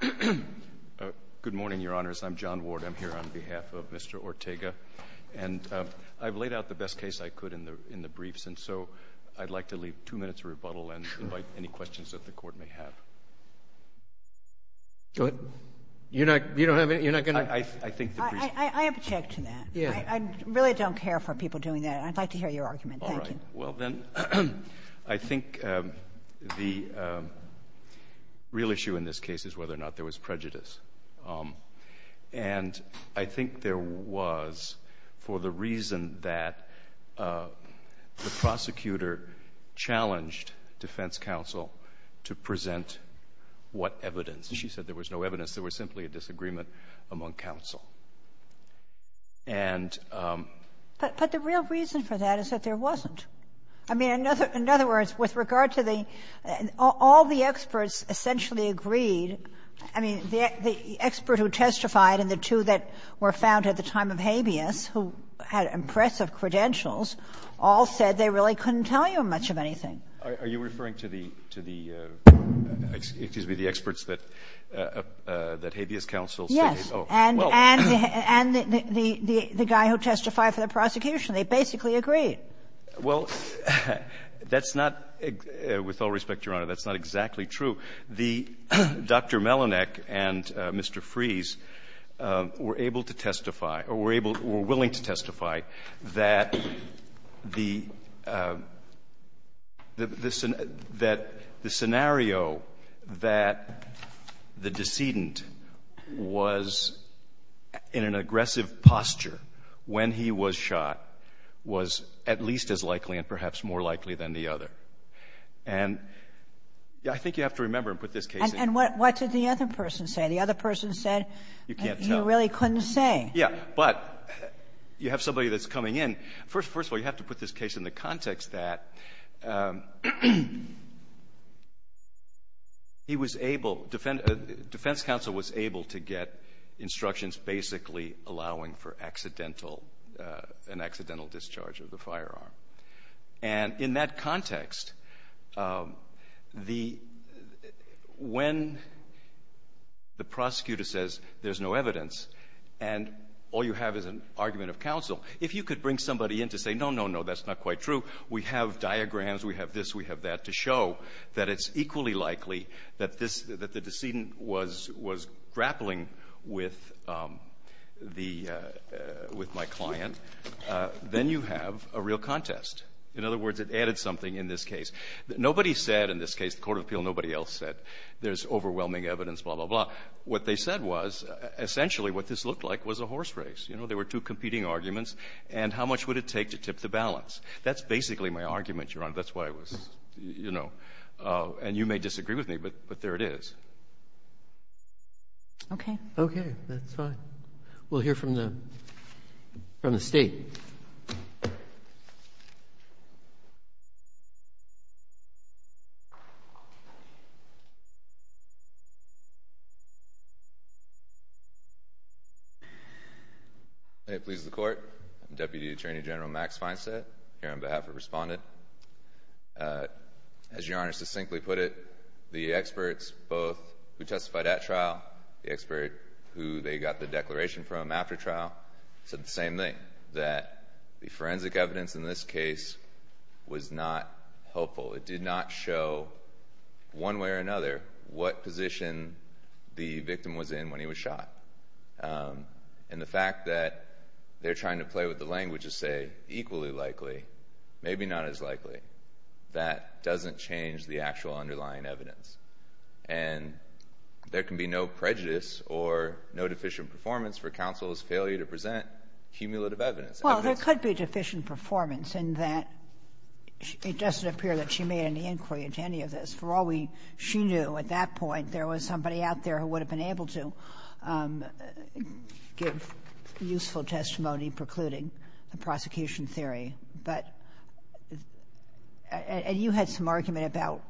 Good morning, Your Honors. I'm John Ward. I'm here on behalf of Mr. Ortega. And I've laid out the best case I could in the briefs, and so I'd like to leave two minutes of rebuttal and invite any questions that the Court may have. Go ahead. You're not going to— I object to that. I really don't care for people doing that. I'd like to hear your argument. Thank you. Well, then, I think the real issue in this case is whether or not there was prejudice. And I think there was for the reason that the prosecutor challenged defense counsel to present what evidence. She said there was no evidence. There was simply a disagreement among counsel. And— But the real reason for that is that there wasn't. I mean, in other words, with regard to the — all the experts essentially agreed. I mean, the expert who testified and the two that were found at the time of Habeas, who had impressive credentials, all said they really couldn't tell you much of anything. Are you referring to the — to the — excuse me, the experts that Habeas counsel said? Yes. And the guy who testified for the prosecution, they basically agreed. Well, that's not — with all respect, Your Honor, that's not exactly true. The — Dr. Melinek and Mr. Fries were able to testify or were able — were willing to testify that the — that the scenario that the decedent was in an aggressive posture when he was shot was at least as likely and perhaps more likely than the other. And I think you have to remember and put this case in. And what did the other person say? The other person said you really couldn't say. Yeah. But you have somebody that's coming in. First of all, you have to put this case in the context that he was able — defense counsel was able to get instructions basically allowing for accidental — an accidental discharge of the firearm. And in that context, the — when the prosecutor says there's no evidence and all you have is an argument of counsel, if you could bring somebody in to say, no, no, no, that's not quite true, we have diagrams, we have this, we have that, to show that it's equally likely that this — that the decedent was grappling with the — with the firearm. And then you have a real contest. In other words, it added something in this case. Nobody said in this case, the Court of Appeal, nobody else said there's overwhelming evidence, blah, blah, blah. What they said was essentially what this looked like was a horse race. You know, there were two competing arguments. And how much would it take to tip the balance? That's basically my argument, Your Honor. That's why I was — you know. And you may disagree with me, but there it is. Okay. Okay, that's fine. We'll hear from the — from the State. If it pleases the Court, I'm Deputy Attorney General Max Feinstadt, here on behalf of Respondent. As Your Honor succinctly put it, the experts, both who testified at trial, the expert who they got the declaration from after trial, said the same thing, that the forensic evidence in this case was not helpful. It did not show, one way or another, what position the victim was in when he was shot. And the fact that they're trying to play with the language to say equally likely, maybe not as likely, that doesn't change the actual underlying evidence. And there can be no prejudice or no deficient performance for counsel's failure to present cumulative evidence. Well, there could be deficient performance in that it doesn't appear that she made any inquiry into any of this. For all we — she knew at that point there was somebody out there who would have been able to give useful testimony precluding the prosecution theory. But — and you had some argument about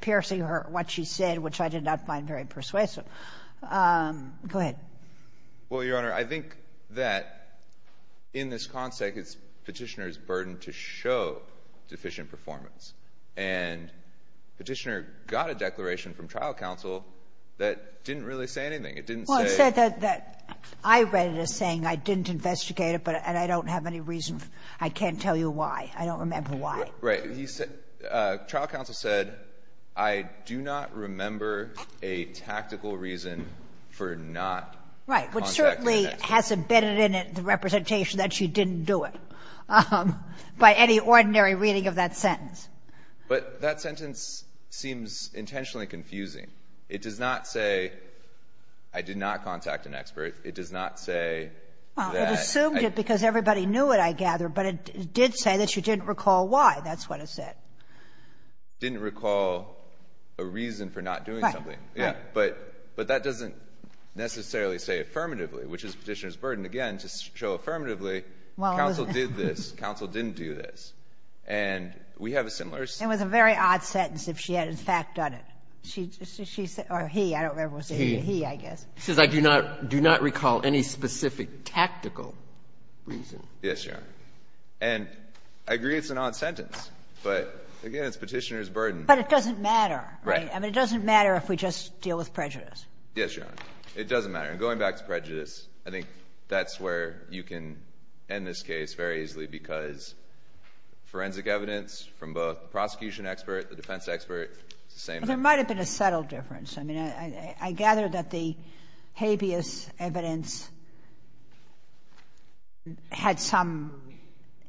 piercing her — what she said, which I did not find very persuasive. Go ahead. Well, Your Honor, I think that in this context, it's Petitioner's burden to show deficient performance. And Petitioner got a declaration from trial counsel that didn't really say anything. It didn't say — Well, it said that — I read it as saying, I didn't investigate it, but — and I don't have any reason — I can't tell you why. I don't remember why. Right. He said — trial counsel said, I do not remember a tactical reason for not contacting — Right. Which certainly has embedded in it the representation that she didn't do it. Right. By any ordinary reading of that sentence. But that sentence seems intentionally confusing. It does not say, I did not contact an expert. It does not say — Well, it assumed it because everybody knew it, I gather. But it did say that she didn't recall why. That's what it said. Didn't recall a reason for not doing something. Right. Yeah. But that doesn't necessarily say affirmatively, which is Petitioner's burden. Again, to show affirmatively, counsel did this, counsel didn't do this. And we have a similar — It was a very odd sentence if she had, in fact, done it. She said — or he. I don't remember if it was he. He. He, I guess. She says, I do not recall any specific tactical reason. Yes, Your Honor. And I agree it's an odd sentence. But, again, it's Petitioner's burden. But it doesn't matter. Right. I mean, it doesn't matter if we just deal with prejudice. Yes, Your Honor. It doesn't matter. And going back to prejudice, I think that's where you can end this case very easily because forensic evidence from both the prosecution expert, the defense expert, it's the same thing. Well, there might have been a subtle difference. I mean, I gather that the habeas evidence had some,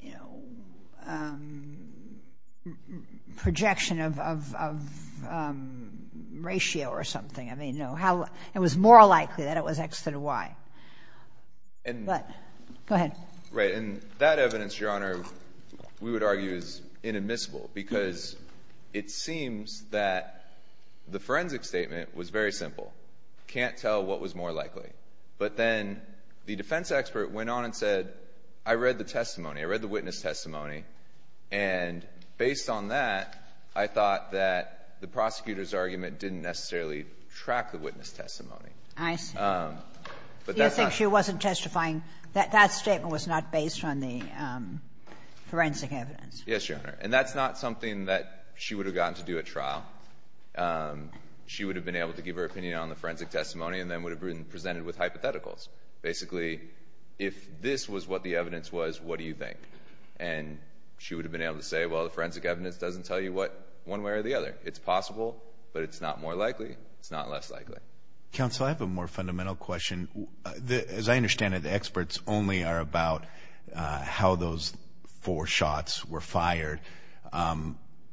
you know, projection of ratio or something. I mean, how — it was more likely that it was X than Y. But — Go ahead. Right. And that evidence, Your Honor, we would argue is inadmissible because it seems that the forensic statement was very simple. Can't tell what was more likely. But then the defense expert went on and said, I read the testimony. I read the witness testimony. And based on that, I thought that the prosecutor's argument didn't necessarily track the witness testimony. I see. But that's not — You think she wasn't testifying — that statement was not based on the forensic evidence. Yes, Your Honor. And that's not something that she would have gotten to do at trial. She would have been able to give her opinion on the forensic testimony and then would have been presented with hypotheticals. Basically, if this was what the evidence was, what do you think? And she would have been able to say, well, the forensic evidence doesn't tell you what — one way or the other. It's possible, but it's not more likely. It's not less likely. Counsel, I have a more fundamental question. As I understand it, the experts only are about how those four shots were fired.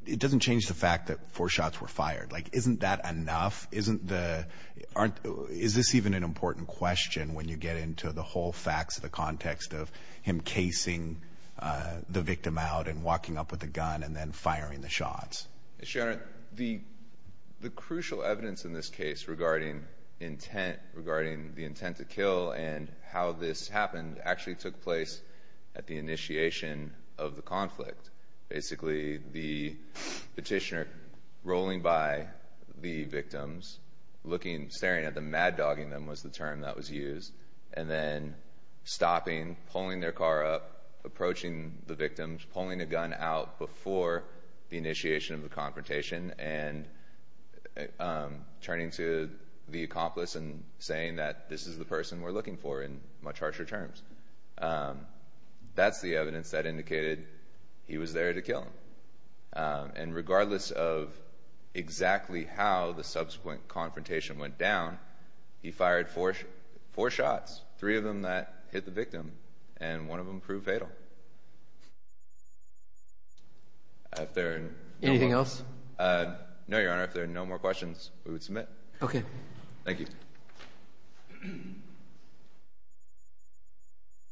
It doesn't change the fact that four shots were fired. Like, isn't that enough? Isn't the — aren't — is this even an important question when you get into the whole facts of the context of him casing the victim out and walking up with a gun and then firing the shots? Yes, Your Honor. The crucial evidence in this case regarding intent, regarding the intent to kill and how this happened actually took place at the initiation of the conflict. Basically, the petitioner rolling by the victims, looking, staring at them, mad-dogging them was the term that was used, and then stopping, pulling their car up, approaching the victims, pulling a gun out before the initiation of the confrontation and turning to the accomplice and saying that this is the person we're looking for in much harsher terms. That's the evidence that indicated he was there to kill them. And regardless of exactly how the subsequent confrontation went down, he fired four shots, three of them that hit the victim, and one of them proved fatal. Anything else? No, Your Honor. If there are no more questions, we would submit. Okay. Thank you.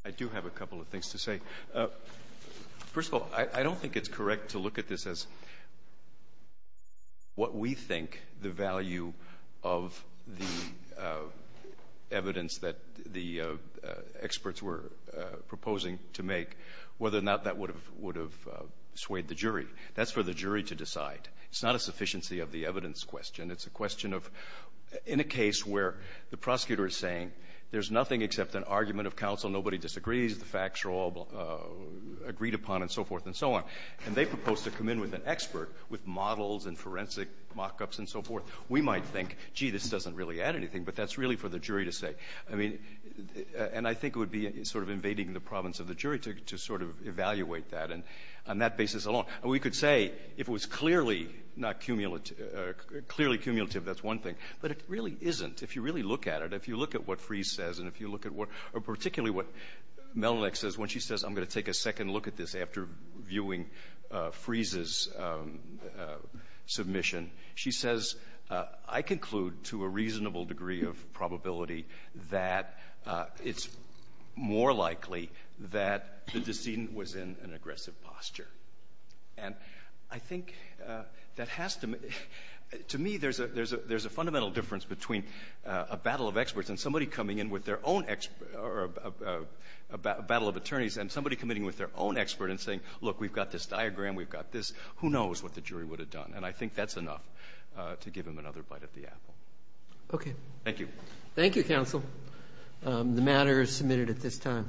I do have a couple of things to say. First of all, I don't think it's correct to look at this as what we think the value of the evidence that the experts were proposing to make, whether or not that would have swayed the jury. That's for the jury to decide. It's not a sufficiency of the evidence question. It's a question of, in a case where the prosecutor is saying there's nothing except an argument of counsel, nobody disagrees, the facts are all agreed upon, and so forth and so on, and they propose to come in with an expert with models and forensic mock-ups and so forth, we might think, gee, this doesn't really add anything, but that's really for the jury to say. I mean, and I think it would be sort of invading the province of the jury to sort of evaluate that, and on that basis alone. And we could say, if it was clearly not cumulative, clearly cumulative, that's one thing, but it really isn't. If you really look at it, if you look at what Freeze says, and if you look at what, or particularly what Melalech says, when she says, I'm going to take a second look at this after viewing Freeze's submission, she says, I conclude to a reasonable degree of probability that it's more likely that the decedent was in an aggressive posture. And I think that has to, to me, there's a fundamental difference between a battle of experts and somebody coming in with their own, or a battle of attorneys, and somebody coming in with their own expert and saying, look, we've got this diagram, we've got this, who knows what the jury would have done. And I think that's enough to give them another bite at the apple. Okay. Thank you. Thank you, counsel. The matter is submitted at this time.